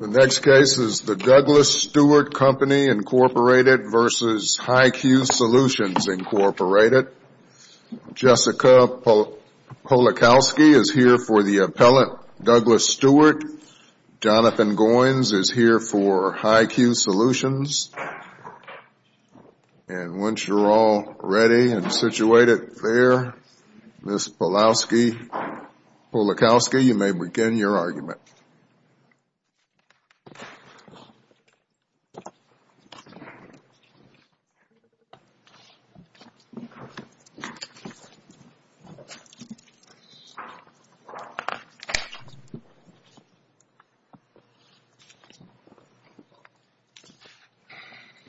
The next case is the Douglas Stewart Company, Incorporated v. HIQ Solutions, Incorporated. Jessica Polakowski is here for the appellate Douglas Stewart. Jonathan Goins is here for HIQ Solutions. And once you're all ready and situated there, Ms. Polakowski, you may begin your argument.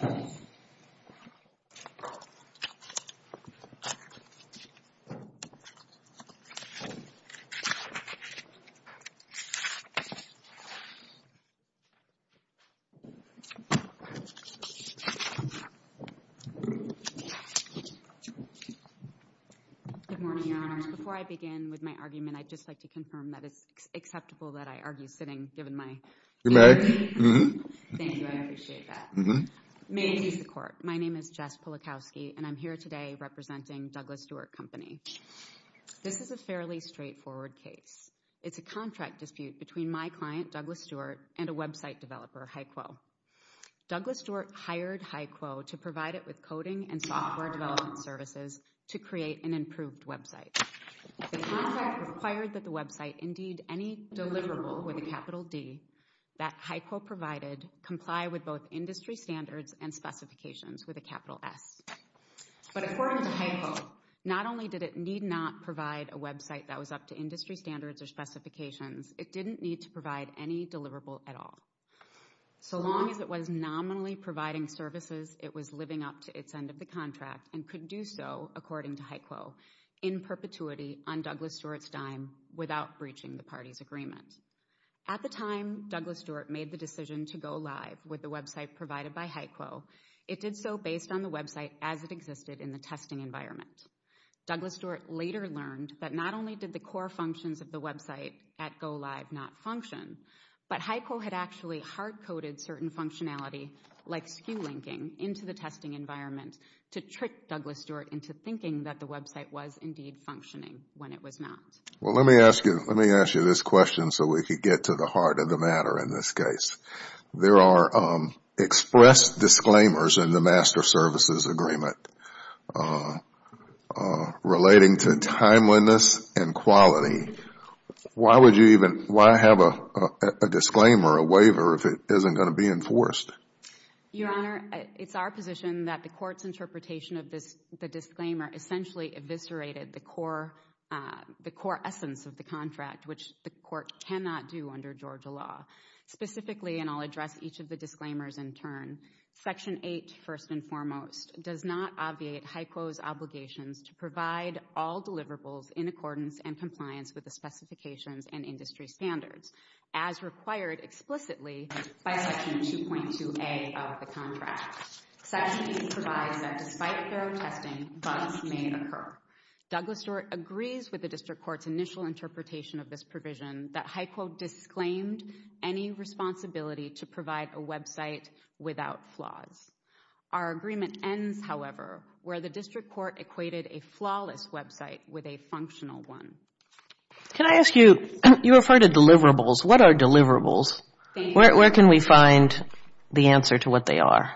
Okay. Good morning, Your Honors. Before I begin with my argument, I'd just like to confirm that it's acceptable that I argue sitting, given my hearing. Thank you, I appreciate that. May it please the Court, my name is Jess Polakowski, and I'm here today representing Douglas Stewart Company. This is a fairly straightforward case. It's a contract dispute between my client, Douglas Stewart, and a website developer, HIQO. Douglas Stewart hired HIQO to provide it with coding and software development services to create an improved website. The contract required that the website indeed any deliverable with a capital D that HIQO provided comply with both industry standards and specifications with a capital S. But according to HIQO, not only did it need not provide a website that was up to industry standards or specifications, it didn't need to provide any deliverable at all. So long as it was nominally providing services, it was living up to its end of the contract and could do so, according to HIQO, in perpetuity on Douglas Stewart's dime without breaching the party's agreement. At the time Douglas Stewart made the decision to go live with the website provided by HIQO, it did so based on the website as it existed in the testing environment. Douglas Stewart later learned that not only did the core functions of the website at go live not function, but HIQO had actually hard-coded certain functionality like SKU linking into the testing environment to trick Douglas Stewart into thinking that the website was indeed functioning when it was not. Well, let me ask you this question so we can get to the heart of the matter in this case. There are expressed disclaimers in the Master Services Agreement relating to timeliness and quality. Why would you even have a disclaimer, a waiver, if it isn't going to be enforced? Your Honor, it's our position that the court's interpretation of the disclaimer essentially eviscerated the core essence of the contract, which the court cannot do under Georgia law. Specifically, and I'll address each of the disclaimers in turn, Section 8, first and foremost, does not obviate HIQO's obligations to provide all deliverables in accordance and compliance with the specifications and industry standards, as required explicitly by Section 2.2A of the contract. Section 8 provides that despite thorough testing, bugs may occur. Douglas Stewart agrees with the district court's initial interpretation of this provision that HIQO disclaimed any responsibility to provide a website without flaws. Our agreement ends, however, where the district court equated a flawless website with a functional one. Can I ask you, you referred to deliverables. What are deliverables? Thank you. Where can we find the answer to what they are?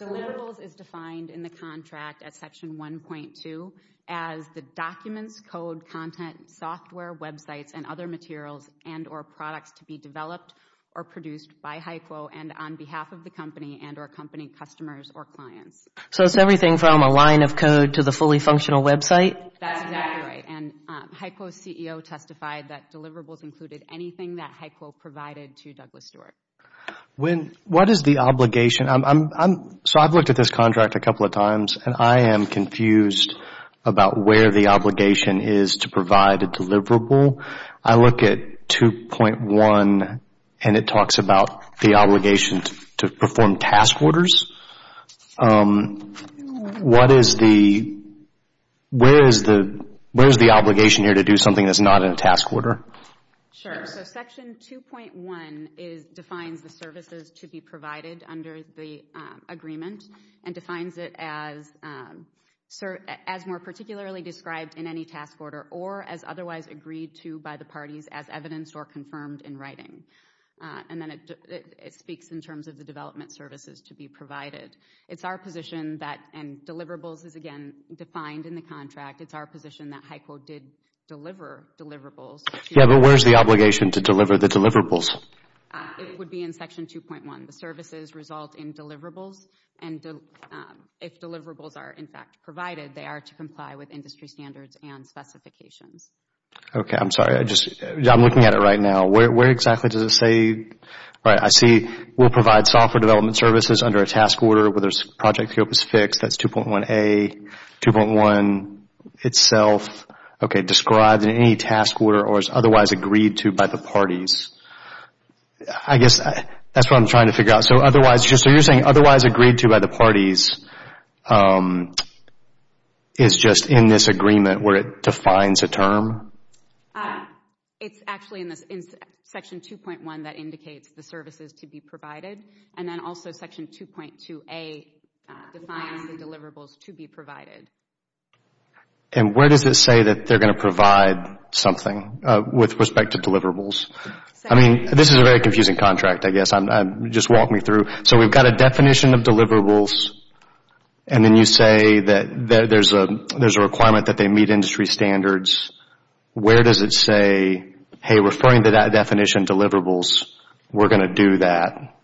Deliverables is defined in the contract at Section 1.2 as the documents, code, content, software, websites, and other materials and or products to be developed or produced by HIQO and on behalf of the company and or company customers or clients. So it's everything from a line of code to the fully functional website? That's exactly right, and HIQO's CEO testified that deliverables included anything that HIQO provided to Douglas Stewart. What is the obligation? So I've looked at this contract a couple of times, and I am confused about where the obligation is to provide a deliverable. I look at 2.1, and it talks about the obligation to perform task orders. What is the, where is the obligation here to do something that's not in a task order? Sure, so Section 2.1 defines the services to be provided under the agreement and defines it as more particularly described in any task order or as otherwise agreed to by the parties as evidence or confirmed in writing. And then it speaks in terms of the development services to be provided. It's our position that, and deliverables is, again, defined in the contract. It's our position that HIQO did deliver deliverables. Yeah, but where's the obligation to deliver the deliverables? It would be in Section 2.1. The services result in deliverables, and if deliverables are, in fact, provided, they are to comply with industry standards and specifications. Okay, I'm sorry. I just, I'm looking at it right now. Where exactly does it say? I see we'll provide software development services under a task order where there's project scope is fixed. That's 2.1A, 2.1 itself. Okay, described in any task order or as otherwise agreed to by the parties. I guess that's what I'm trying to figure out. So otherwise, so you're saying otherwise agreed to by the parties is just in this agreement where it defines a term? It's actually in Section 2.1 that indicates the services to be provided, and then also Section 2.2A defines the deliverables to be provided. And where does it say that they're going to provide something with respect to deliverables? I mean, this is a very confusing contract, I guess. Just walk me through. So we've got a definition of deliverables, and then you say that there's a requirement that they meet industry standards. Where does it say, hey, referring to that definition of deliverables, we're going to do that?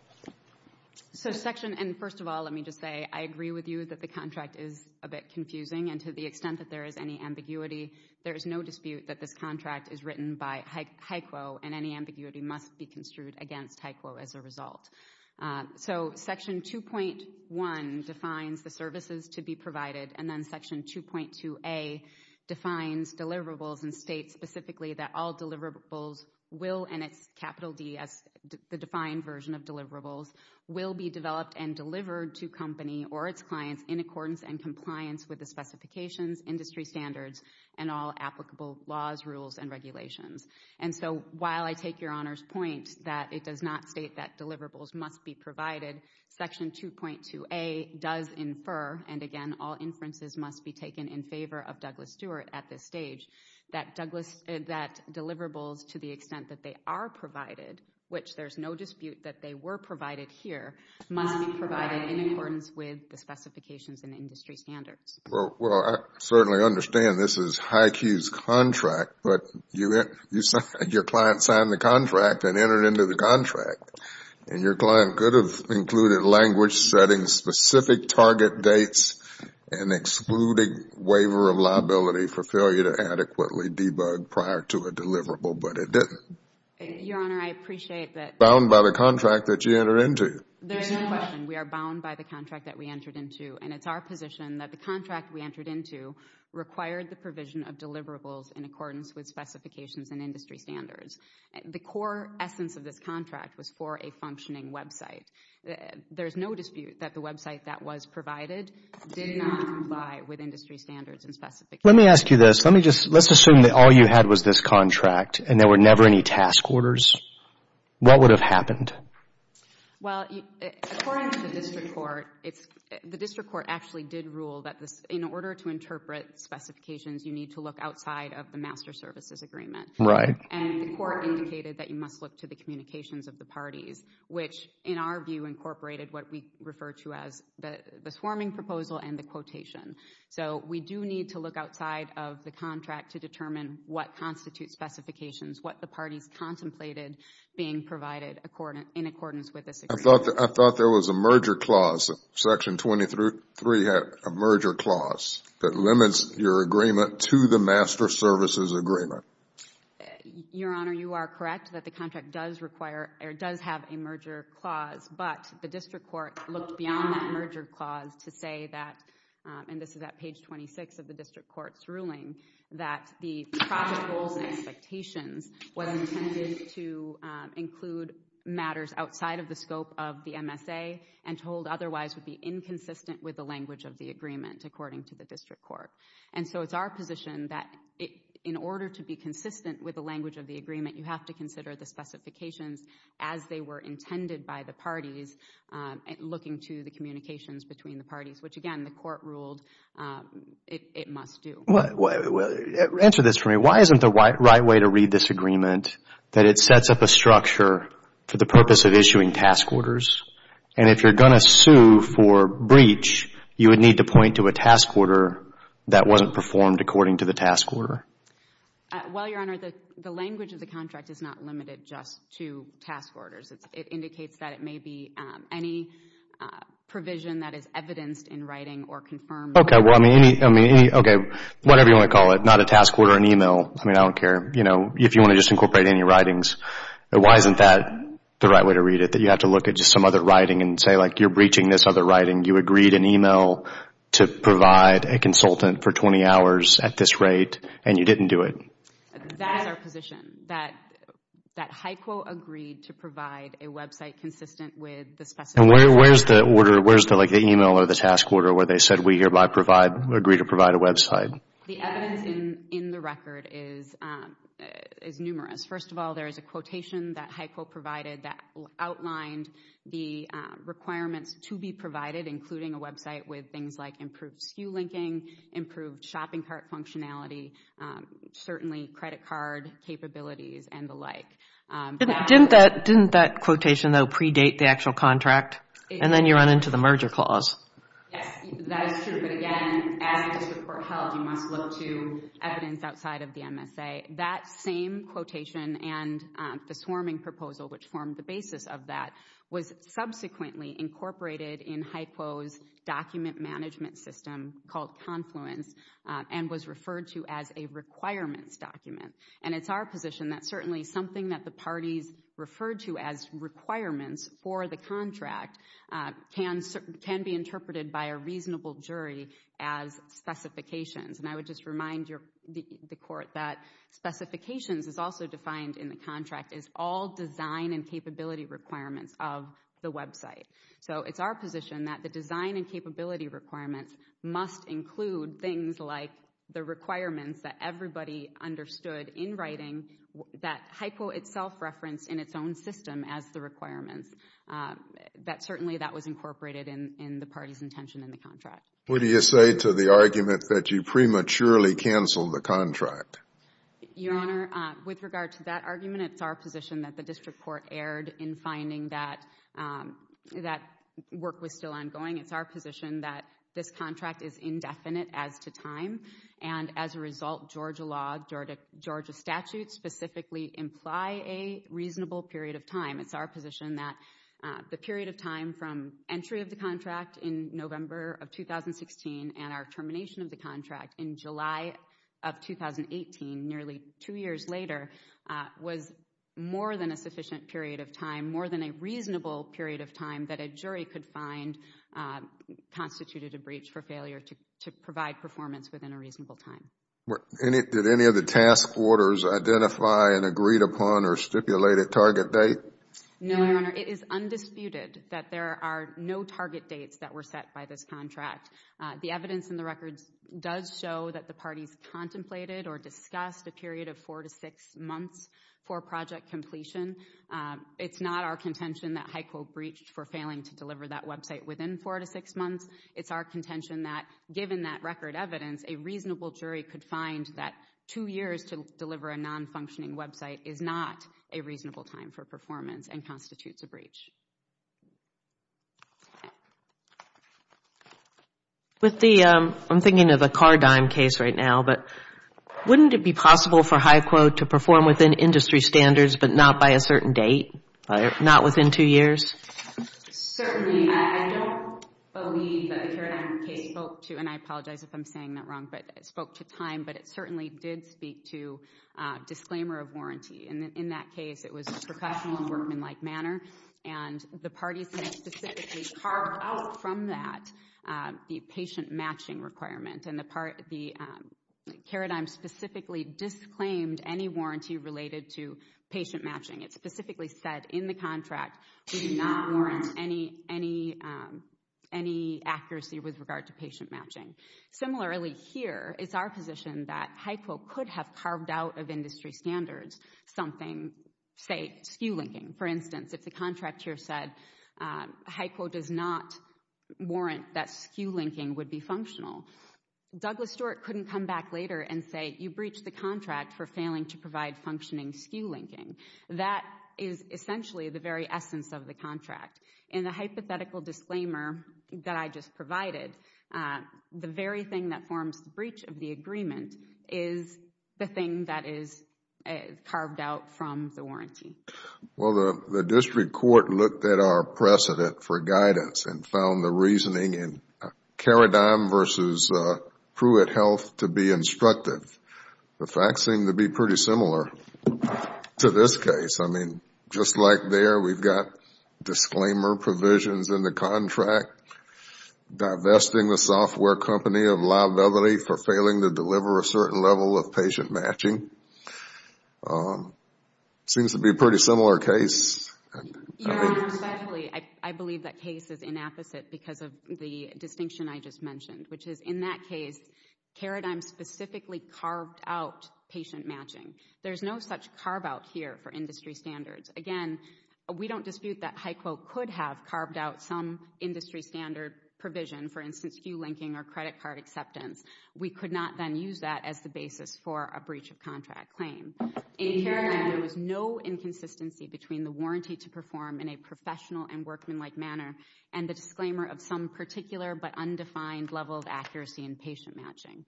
So Section, and first of all, let me just say I agree with you that the contract is a bit confusing, and to the extent that there is any ambiguity, there is no dispute that this contract is written by HICO, and any ambiguity must be construed against HICO as a result. So Section 2.1 defines the services to be provided, and then Section 2.2A defines deliverables and states specifically that all deliverables will, and it's capital D as the defined version of deliverables, will be developed and delivered to company or its clients in accordance and compliance with the specifications, industry standards, and all applicable laws, rules, and regulations. And so while I take Your Honor's point that it does not state that deliverables must be provided, Section 2.2A does infer, and again, all inferences must be taken in favor of Douglas Stewart at this stage, that deliverables to the extent that they are provided, which there's no dispute that they were provided here, must be provided in accordance with the specifications and industry standards. Well, I certainly understand this is HYCU's contract, but your client signed the contract and entered into the contract, and your client could have included language setting specific target dates and excluding waiver of liability for failure to adequately debug prior to a deliverable, but it didn't. Your Honor, I appreciate that. Bound by the contract that you entered into. There is no question. We are bound by the contract that we entered into, and it's our position that the contract we entered into required the provision of deliverables in accordance with specifications and industry standards. The core essence of this contract was for a functioning website. There's no dispute that the website that was provided did not comply with industry standards and specifications. Let me ask you this. Let's assume that all you had was this contract and there were never any task orders. What would have happened? Well, according to the district court, the district court actually did rule that in order to interpret specifications, you need to look outside of the master services agreement. Right. And the court indicated that you must look to the communications of the parties, which in our view incorporated what we refer to as the swarming proposal and the quotation. So we do need to look outside of the contract to determine what constitutes specifications, what the parties contemplated being provided in accordance with this agreement. I thought there was a merger clause. Section 23 had a merger clause that limits your agreement to the master services agreement. Your Honor, you are correct that the contract does have a merger clause, but the district court looked beyond that merger clause to say that, the project goals and expectations were intended to include matters outside of the scope of the MSA and told otherwise would be inconsistent with the language of the agreement, according to the district court. And so it's our position that in order to be consistent with the language of the agreement, you have to consider the specifications as they were intended by the parties looking to the communications between the parties, which, again, the court ruled it must do. Answer this for me. Why isn't the right way to read this agreement that it sets up a structure for the purpose of issuing task orders? And if you're going to sue for breach, you would need to point to a task order that wasn't performed according to the task order. Well, Your Honor, the language of the contract is not limited just to task orders. It indicates that it may be any provision that is evidenced in writing or confirmed. Okay, well, I mean, okay, whatever you want to call it, not a task order or an email. I mean, I don't care. You know, if you want to just incorporate any writings, why isn't that the right way to read it, that you have to look at just some other writing and say, like, you're breaching this other writing. You agreed an email to provide a consultant for 20 hours at this rate, and you didn't do it. That is our position, that HICO agreed to provide a website consistent with the specifications. And where's the order? Where's, like, the email or the task order where they said we hereby agree to provide a website? The evidence in the record is numerous. First of all, there is a quotation that HICO provided that outlined the requirements to be provided, including a website with things like improved SKU linking, improved shopping cart functionality, certainly credit card capabilities and the like. Didn't that quotation, though, predate the actual contract? And then you run into the merger clause. Yes, that is true. But again, as a district court held, you must look to evidence outside of the MSA. That same quotation and the swarming proposal, which formed the basis of that, was subsequently incorporated in HICO's document management system called Confluence and was referred to as a requirements document. And it's our position that certainly something that the parties referred to as requirements for the contract can be interpreted by a reasonable jury as specifications. And I would just remind the court that specifications is also defined in the contract as all design and capability requirements of the website. So it's our position that the design and capability requirements must include things like the requirements that everybody understood in writing that HICO itself referenced in its own system as the requirements. Certainly that was incorporated in the parties' intention in the contract. What do you say to the argument that you prematurely canceled the contract? Your Honor, with regard to that argument, it's our position that the district court erred in finding that work was still ongoing. It's our position that this contract is indefinite as to time. And as a result, Georgia law, Georgia statutes specifically imply a reasonable period of time. It's our position that the period of time from entry of the contract in November of 2016 and our termination of the contract in July of 2018, nearly two years later, was more than a sufficient period of time, more than a reasonable period of time, that a jury could find constituted a breach for failure to provide performance within a reasonable time. Did any of the task orders identify an agreed upon or stipulated target date? No, Your Honor. It is undisputed that there are no target dates that were set by this contract. The evidence in the records does show that the parties contemplated or discussed a period of four to six months for project completion. It's not our contention that HICO breached for failing to deliver that website within four to six months. It's our contention that, given that record evidence, a reasonable jury could find that two years to deliver a non-functioning website is not a reasonable time for performance and constitutes a breach. With the, I'm thinking of the Car Dime case right now, but wouldn't it be possible for HICO to perform within industry standards but not by a certain date, not within two years? Certainly. I don't believe that the Car Dime case spoke to, and I apologize if I'm saying that wrong, but it spoke to time, but it certainly did speak to disclaimer of warranty. And in that case, it was a professional and workmanlike manner. And the parties had specifically carved out from that the patient matching requirement. And the Car Dime specifically disclaimed any warranty related to patient matching. It specifically said in the contract, we do not warrant any accuracy with regard to patient matching. Similarly, here is our position that HICO could have carved out of industry standards something, say, SKU linking. For instance, if the contract here said HICO does not warrant that SKU linking would be functional, Douglas Stewart couldn't come back later and say you breached the contract for failing to provide functioning SKU linking. That is essentially the very essence of the contract. In the hypothetical disclaimer that I just provided, the very thing that forms the breach of the agreement is the thing that is carved out from the warranty. Well, the district court looked at our precedent for guidance and found the reasoning in Car Dime versus Pruitt Health to be instructive. The facts seem to be pretty similar to this case. I mean, just like there, we've got disclaimer provisions in the contract, divesting the software company of liability for failing to deliver a certain level of patient matching. It seems to be a pretty similar case. Your Honor, respectfully, I believe that case is inapposite because of the distinction I just mentioned, which is in that case, Car Dime specifically carved out patient matching. There is no such carve-out here for industry standards. Again, we don't dispute that HICO could have carved out some industry standard provision, for instance, SKU linking or credit card acceptance. We could not then use that as the basis for a breach of contract claim. In Car Dime, there was no inconsistency between the warranty to perform in a professional and workmanlike manner and the disclaimer of some particular but undefined level of accuracy in patient matching.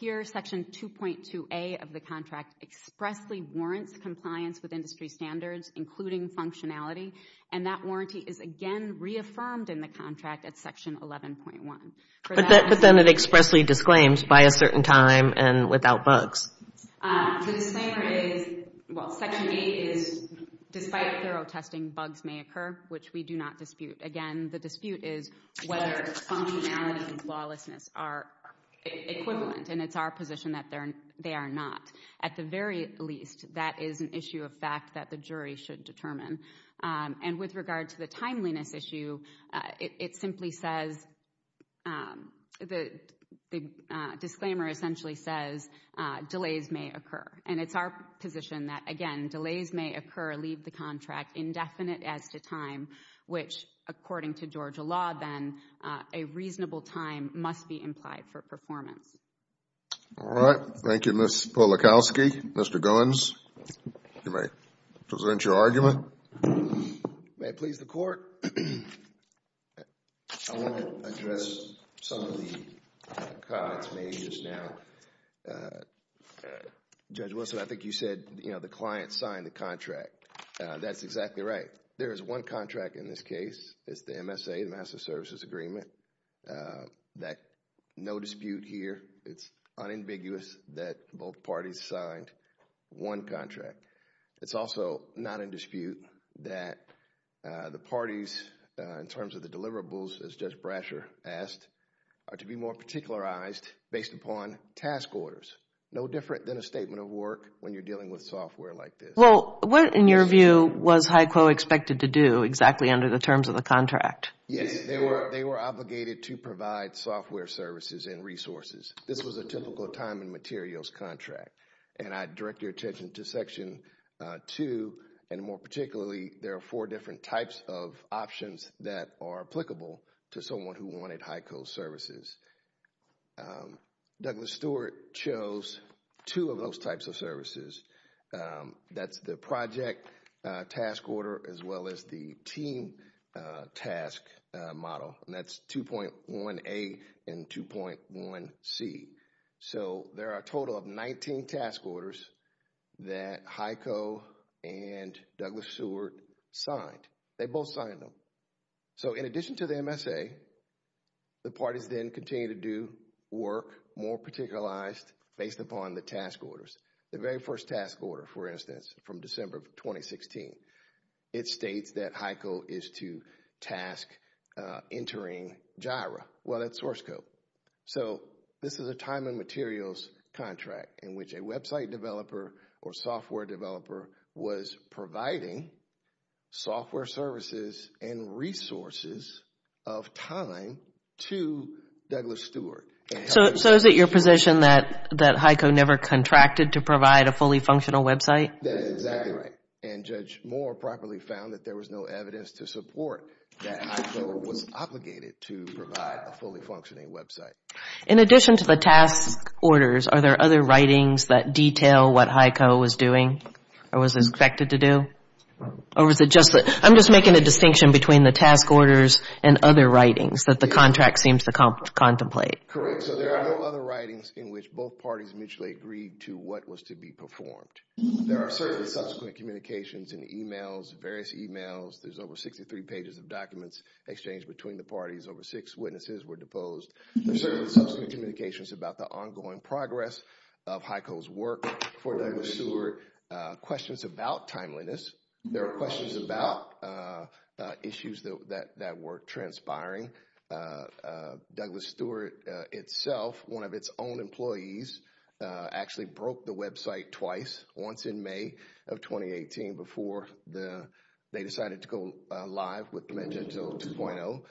Here, Section 2.2A of the contract expressly warrants compliance with industry standards, including functionality, and that warranty is again reaffirmed in the contract at Section 11.1. But then it expressly disclaims by a certain time and without bugs. The disclaimer is, well, Section 8 is despite thorough testing, bugs may occur, which we do not dispute. Again, the dispute is whether functionality and flawlessness are equivalent, and it's our position that they are not. At the very least, that is an issue of fact that the jury should determine. And with regard to the timeliness issue, it simply says, the disclaimer essentially says, delays may occur. And it's our position that, again, delays may occur, leave the contract indefinite as to time, which according to Georgia law then, a reasonable time must be implied for performance. All right. Thank you, Ms. Polakowski. Mr. Goins, you may present your argument. May it please the Court. I want to address some of the comments made just now. Judge Wilson, I think you said, you know, the client signed the contract. That's exactly right. There is one contract in this case. It's the MSA, the Master of Services Agreement, that no dispute here. It's unambiguous that both parties signed one contract. It's also not in dispute that the parties, in terms of the deliverables, as Judge Brasher asked, are to be more particularized based upon task orders. No different than a statement of work when you're dealing with software like this. Well, what, in your view, was HICO expected to do exactly under the terms of the contract? Yes, they were obligated to provide software services and resources. This was a typical time and materials contract. And I direct your attention to Section 2, and more particularly, there are four different types of options that are applicable to someone who wanted HICO services. That's the project task order as well as the team task model. And that's 2.1A and 2.1C. So, there are a total of 19 task orders that HICO and Douglas Seward signed. They both signed them. So, in addition to the MSA, the parties then continue to do work more particularized based upon the task orders. The very first task order, for instance, from December of 2016, it states that HICO is to task entering JIRA. Well, that's source code. So, this is a time and materials contract in which a website developer or software developer was providing software services and resources of time to Douglas Seward. So, is it your position that HICO never contracted to provide a fully functional website? That is exactly right. And Judge Moore properly found that there was no evidence to support that HICO was obligated to provide a fully functioning website. In addition to the task orders, are there other writings that detail what HICO was doing or was expected to do? I'm just making a distinction between the task orders and other writings that the contract seems to contemplate. Correct. So, there are no other writings in which both parties mutually agreed to what was to be performed. There are certainly subsequent communications and emails, various emails. There's over 63 pages of documents exchanged between the parties. Over six witnesses were deposed. There's certainly subsequent communications about the ongoing progress of HICO's work for Douglas Seward. Questions about timeliness. There are questions about issues that were transpiring. Douglas Seward itself, one of its own employees, actually broke the website twice. Once in May of 2018 before they decided to go live with Commenge 2.0.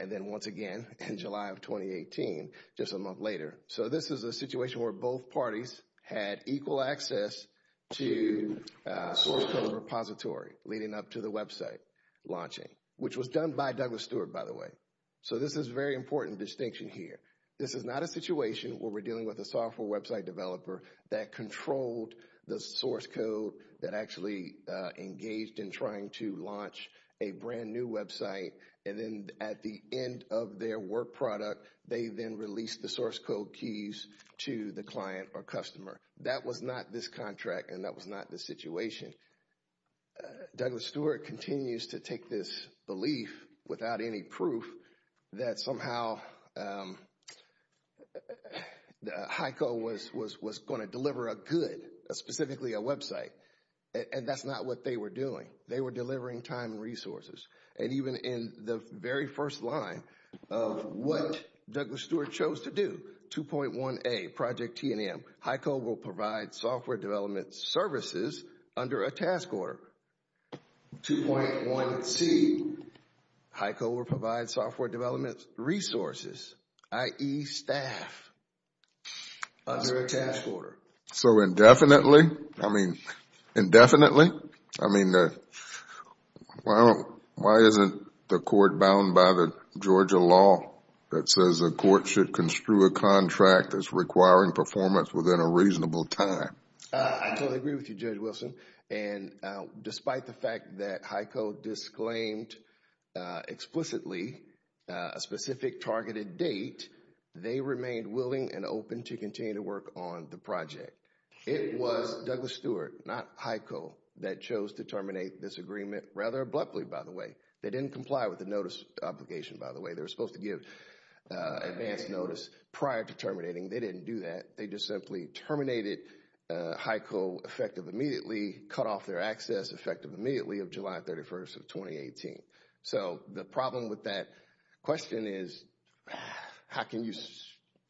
And then once again in July of 2018, just a month later. So, this is a situation where both parties had equal access to a source code repository leading up to the website launching, which was done by Douglas Seward, by the way. So, this is a very important distinction here. This is not a situation where we're dealing with a software website developer that controlled the source code, that actually engaged in trying to launch a brand new website. And then at the end of their work product, they then released the source code keys to the client or customer. That was not this contract, and that was not the situation. Douglas Seward continues to take this belief without any proof that somehow HICO was going to deliver a good, specifically a website. And that's not what they were doing. They were delivering time and resources. And even in the very first line of what Douglas Seward chose to do, 2.1A, Project T&M, HICO will provide software development services under a task order. 2.1C, HICO will provide software development resources, i.e. staff, under a task order. So, indefinitely, I mean, indefinitely, I mean, why isn't the court bound by the Georgia law that says a court should construe a contract that's requiring performance within a reasonable time? I totally agree with you, Judge Wilson. And despite the fact that HICO disclaimed explicitly a specific targeted date, they remained willing and open to continue to work on the project. It was Douglas Seward, not HICO, that chose to terminate this agreement rather abruptly, by the way. They didn't comply with the notice obligation, by the way. They were supposed to give advance notice prior to terminating. They didn't do that. They just simply terminated HICO effective immediately, cut off their access effective immediately of July 31st of 2018. So, the problem with that question is, how can you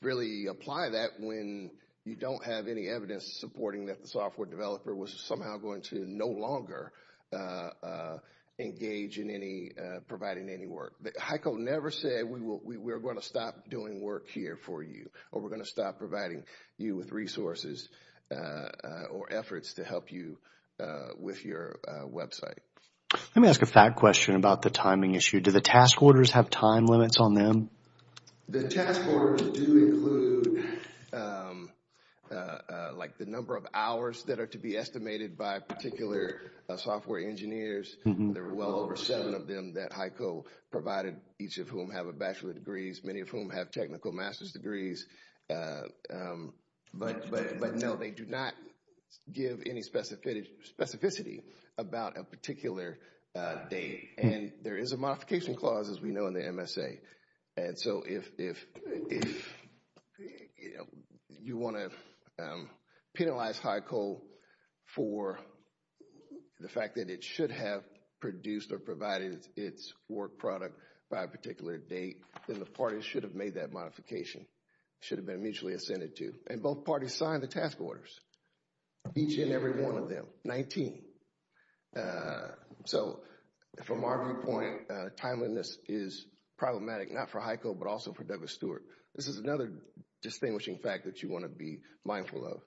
really apply that when you don't have any evidence supporting that the software developer was somehow going to no longer engage in providing any work? HICO never said, we're going to stop doing work here for you, or we're going to stop providing you with resources or efforts to help you with your website. Let me ask a fact question about the timing issue. Do the task orders have time limits on them? The task orders do include, like, the number of hours that are to be estimated by particular software engineers. There are well over seven of them that HICO provided, each of whom have a bachelor's degrees, many of whom have technical master's degrees. But no, they do not give any specificity about a particular date. And there is a modification clause, as we know, in the MSA. And so, if you want to penalize HICO for the fact that it should have produced or provided its work product by a particular date, then the parties should have made that modification, should have been mutually assented to. And both parties signed the task orders, each and every one of them, 19. So, from our viewpoint, timeliness is problematic, not for HICO, but also for Douglas Stewart. This is another distinguishing fact that you want to be mindful of.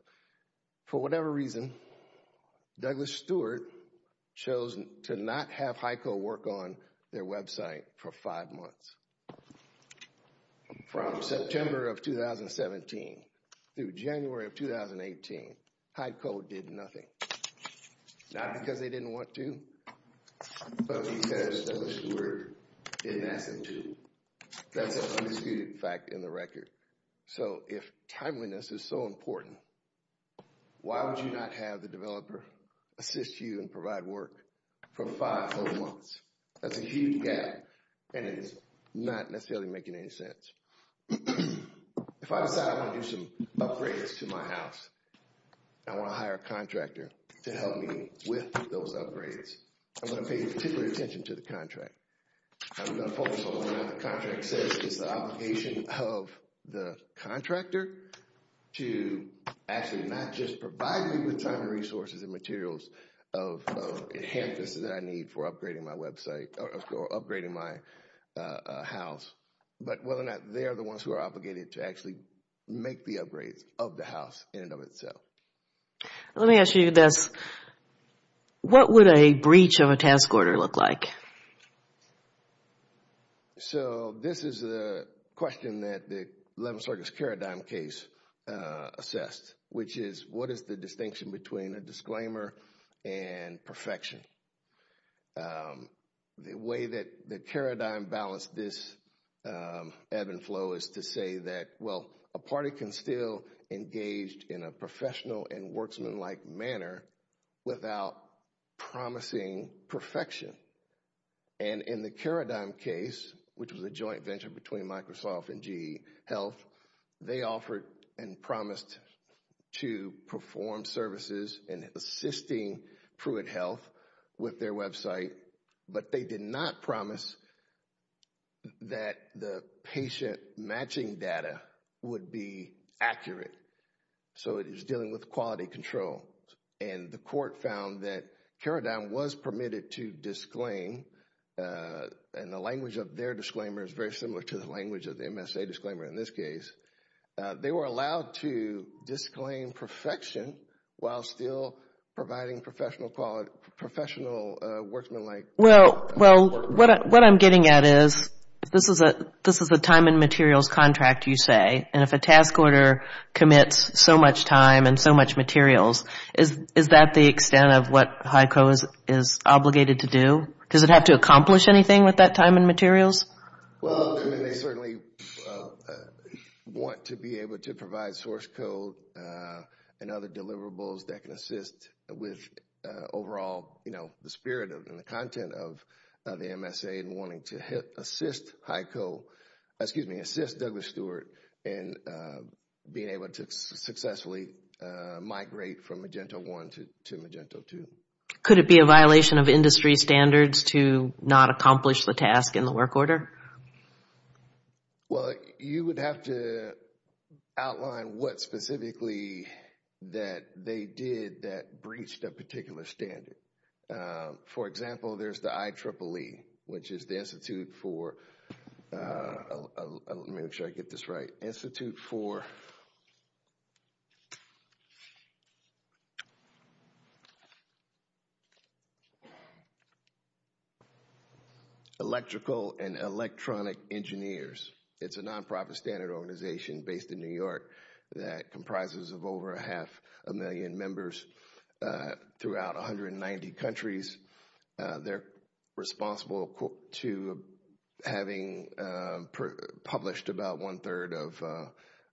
For whatever reason, Douglas Stewart chose to not have HICO work on their website for five months. From September of 2017 through January of 2018, HICO did nothing. Not because they didn't want to, but because Douglas Stewart didn't ask them to. That's an undisputed fact in the record. So, if timeliness is so important, why would you not have the developer assist you and provide work for five whole months? That's a huge gap, and it's not necessarily making any sense. If I decide I want to do some upgrades to my house, I want to hire a contractor to help me with those upgrades. I'm going to pay particular attention to the contract. I'm going to focus on what the contract says. It's the obligation of the contractor to actually not just provide me with time and resources and materials of enhancements that I need for upgrading my website or upgrading my house, but whether or not they are the ones who are obligated to actually make the upgrades of the house in and of itself. Let me ask you this. What would a breach of a task order look like? So, this is a question that the 11th Circuit's paradigm case assessed, which is, what is the distinction between a disclaimer and perfection? The way that the paradigm balanced this ebb and flow is to say that, well, a party can still engage in a professional and worksmanlike manner without promising perfection. And in the paradigm case, which was a joint venture between Microsoft and GE Health, they offered and promised to perform services and assisting Pruitt Health with their website, but they did not promise that the patient matching data would be accurate. So, it is dealing with quality control. And the court found that paradigm was permitted to disclaim, and the language of their disclaimer is very similar to the language of the MSA disclaimer in this case. They were allowed to disclaim perfection while still providing professional worksmanlike support. Well, what I'm getting at is, this is a time and materials contract, you say, and if a task order commits so much time and so much materials, is that the extent of what HICO is obligated to do? Does it have to accomplish anything with that time and materials? Well, they certainly want to be able to provide source code and other deliverables that can assist with overall, you know, the spirit and the content of the MSA and wanting to assist HICO, excuse me, assist Douglas Stewart in being able to successfully migrate from Magento 1 to Magento 2. Could it be a violation of industry standards to not accomplish the task in the work order? Well, you would have to outline what specifically that they did that breached a particular standard. For example, there's the IEEE, which is the Institute for, let me make sure I get this right, the Institute for Electrical and Electronic Engineers. It's a nonprofit standard organization based in New York that comprises of over half a million members throughout 190 countries. They're responsible to having published about one third of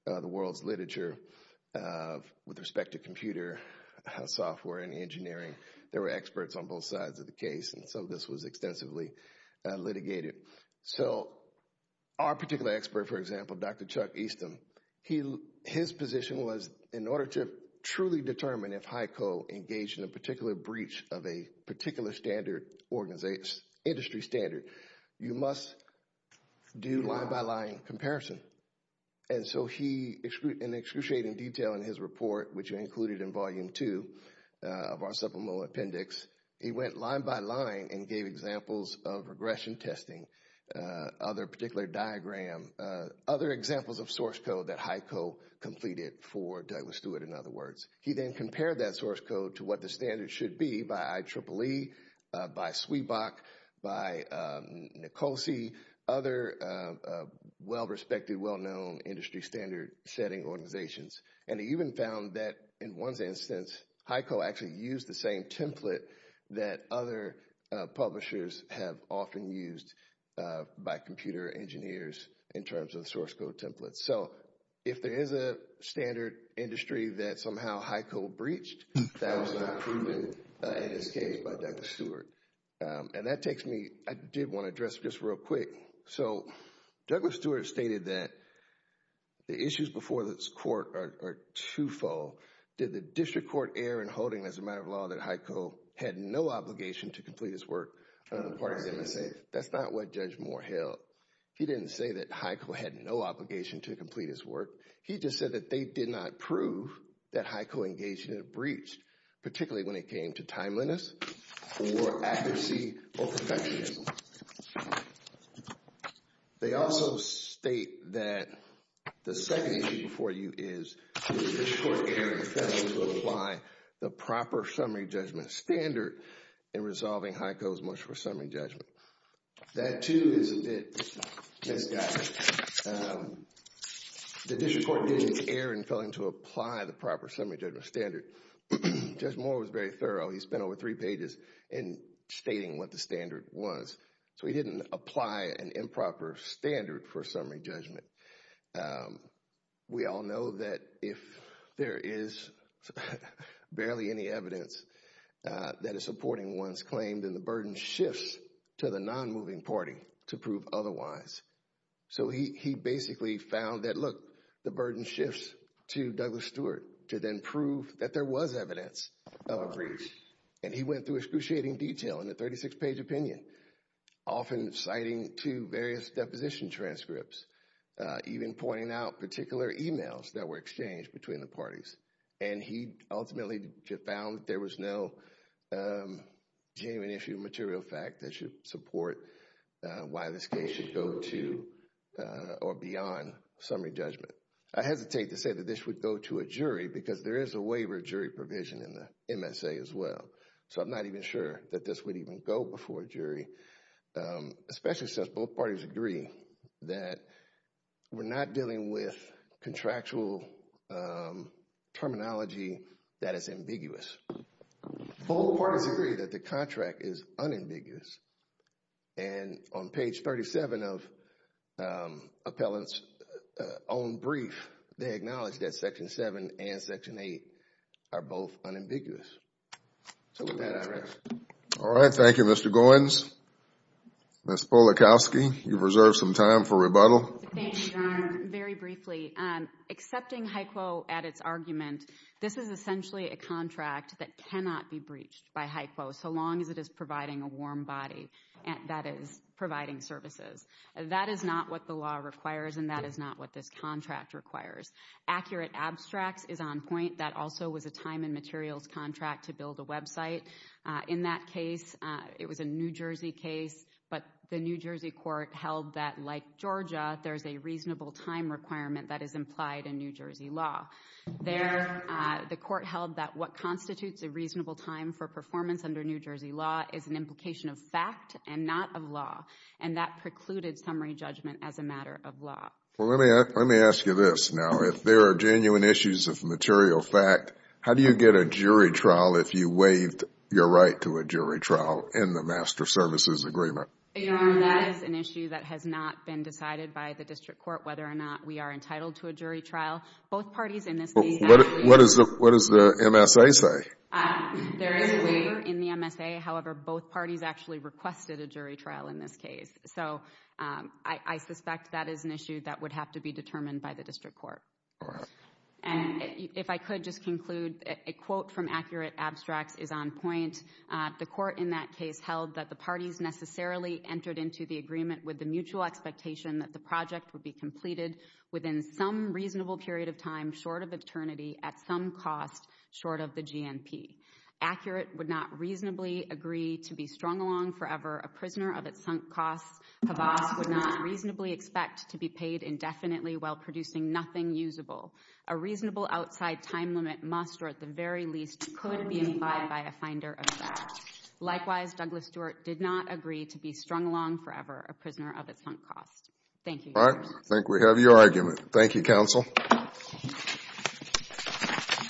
the world's literature with respect to computer software and engineering. There were experts on both sides of the case, and so this was extensively litigated. So our particular expert, for example, Dr. Chuck Easton, his position was in order to truly determine if HICO engaged in a particular breach of a particular standard, industry standard, you must do line-by-line comparison. And so he, in excruciating detail in his report, which are included in Volume 2 of our supplemental appendix, he went line-by-line and gave examples of regression testing, other particular diagram, other examples of source code that HICO completed for Douglas Stewart, in other words. He then compared that source code to what the standard should be by IEEE, by SWEBAC, by NICOLSE, other well-respected, well-known industry standard setting organizations. And he even found that in one instance, HICO actually used the same template that other publishers have often used by computer engineers in terms of source code templates. So if there is a standard industry that somehow HICO breached, that was not proven in this case by Douglas Stewart. And that takes me, I did want to address this real quick. So Douglas Stewart stated that the issues before this court are two-fold. Did the district court err in holding as a matter of law that HICO had no obligation to complete his work on the part of MSA? That's not what Judge Moore held. He didn't say that HICO had no obligation to complete his work. He just said that they did not prove that HICO engaged in a breach, particularly when it came to timeliness or accuracy or perfectionism. They also state that the second issue before you is, did the district court err in failing to apply the proper summary judgment standard in resolving HICO's motion for summary judgment? That, too, is a bit misguided. The district court didn't err in failing to apply the proper summary judgment standard. Judge Moore was very thorough. He spent over three pages in stating what the standard was. So he didn't apply an improper standard for summary judgment. We all know that if there is barely any evidence that is supporting one's claim, then the burden shifts to the non-moving party to prove otherwise. So he basically found that, look, the burden shifts to Douglas Stewart to then prove that there was evidence of a breach. And he went through excruciating detail in a 36-page opinion, often citing two various deposition transcripts, even pointing out particular emails that were exchanged between the parties. And he ultimately found that there was no genuine issue of material fact that should support why this case should go to or beyond summary judgment. I hesitate to say that this would go to a jury because there is a waiver of jury provision in the MSA as well. So I'm not even sure that this would even go before a jury, especially since both parties agree that we're not dealing with contractual terminology that is ambiguous. Both parties agree that the contract is unambiguous. And on page 37 of Appellant's own brief, they acknowledge that Section 7 and Section 8 are both unambiguous. So with that, I rise. All right. Thank you, Mr. Goins. Ms. Polakowski, you've reserved some time for rebuttal. Thank you, Your Honor. Very briefly, accepting HICO at its argument, this is essentially a contract that cannot be breached by HICO, so long as it is providing a warm body that is providing services. That is not what the law requires, and that is not what this contract requires. Accurate abstracts is on point. That also was a time and materials contract to build a website. In that case, it was a New Jersey case, but the New Jersey court held that, like Georgia, there's a reasonable time requirement that is implied in New Jersey law. There, the court held that what constitutes a reasonable time for performance under New Jersey law is an implication of fact and not of law. And that precluded summary judgment as a matter of law. Well, let me ask you this now. If there are genuine issues of material fact, how do you get a jury trial if you waived your right to a jury trial in the Master Services Agreement? Your Honor, that is an issue that has not been decided by the district court whether or not we are entitled to a jury trial. Both parties in this case have agreed. What does the MSA say? There is a waiver in the MSA. However, both parties actually requested a jury trial in this case. So I suspect that is an issue that would have to be determined by the district court. All right. And if I could just conclude, a quote from Accurate Abstracts is on point. And the court in that case held that the parties necessarily entered into the agreement with the mutual expectation that the project would be completed within some reasonable period of time short of eternity at some cost short of the GNP. Accurate would not reasonably agree to be strung along forever. A prisoner of its sunk costs would not reasonably expect to be paid indefinitely while producing nothing usable. A reasonable outside time limit must or at the very least could be implied by a finder of facts. Likewise, Douglas Stewart did not agree to be strung along forever, a prisoner of its sunk costs. Thank you, Your Honor. All right. I think we have your argument. Thank you, counsel.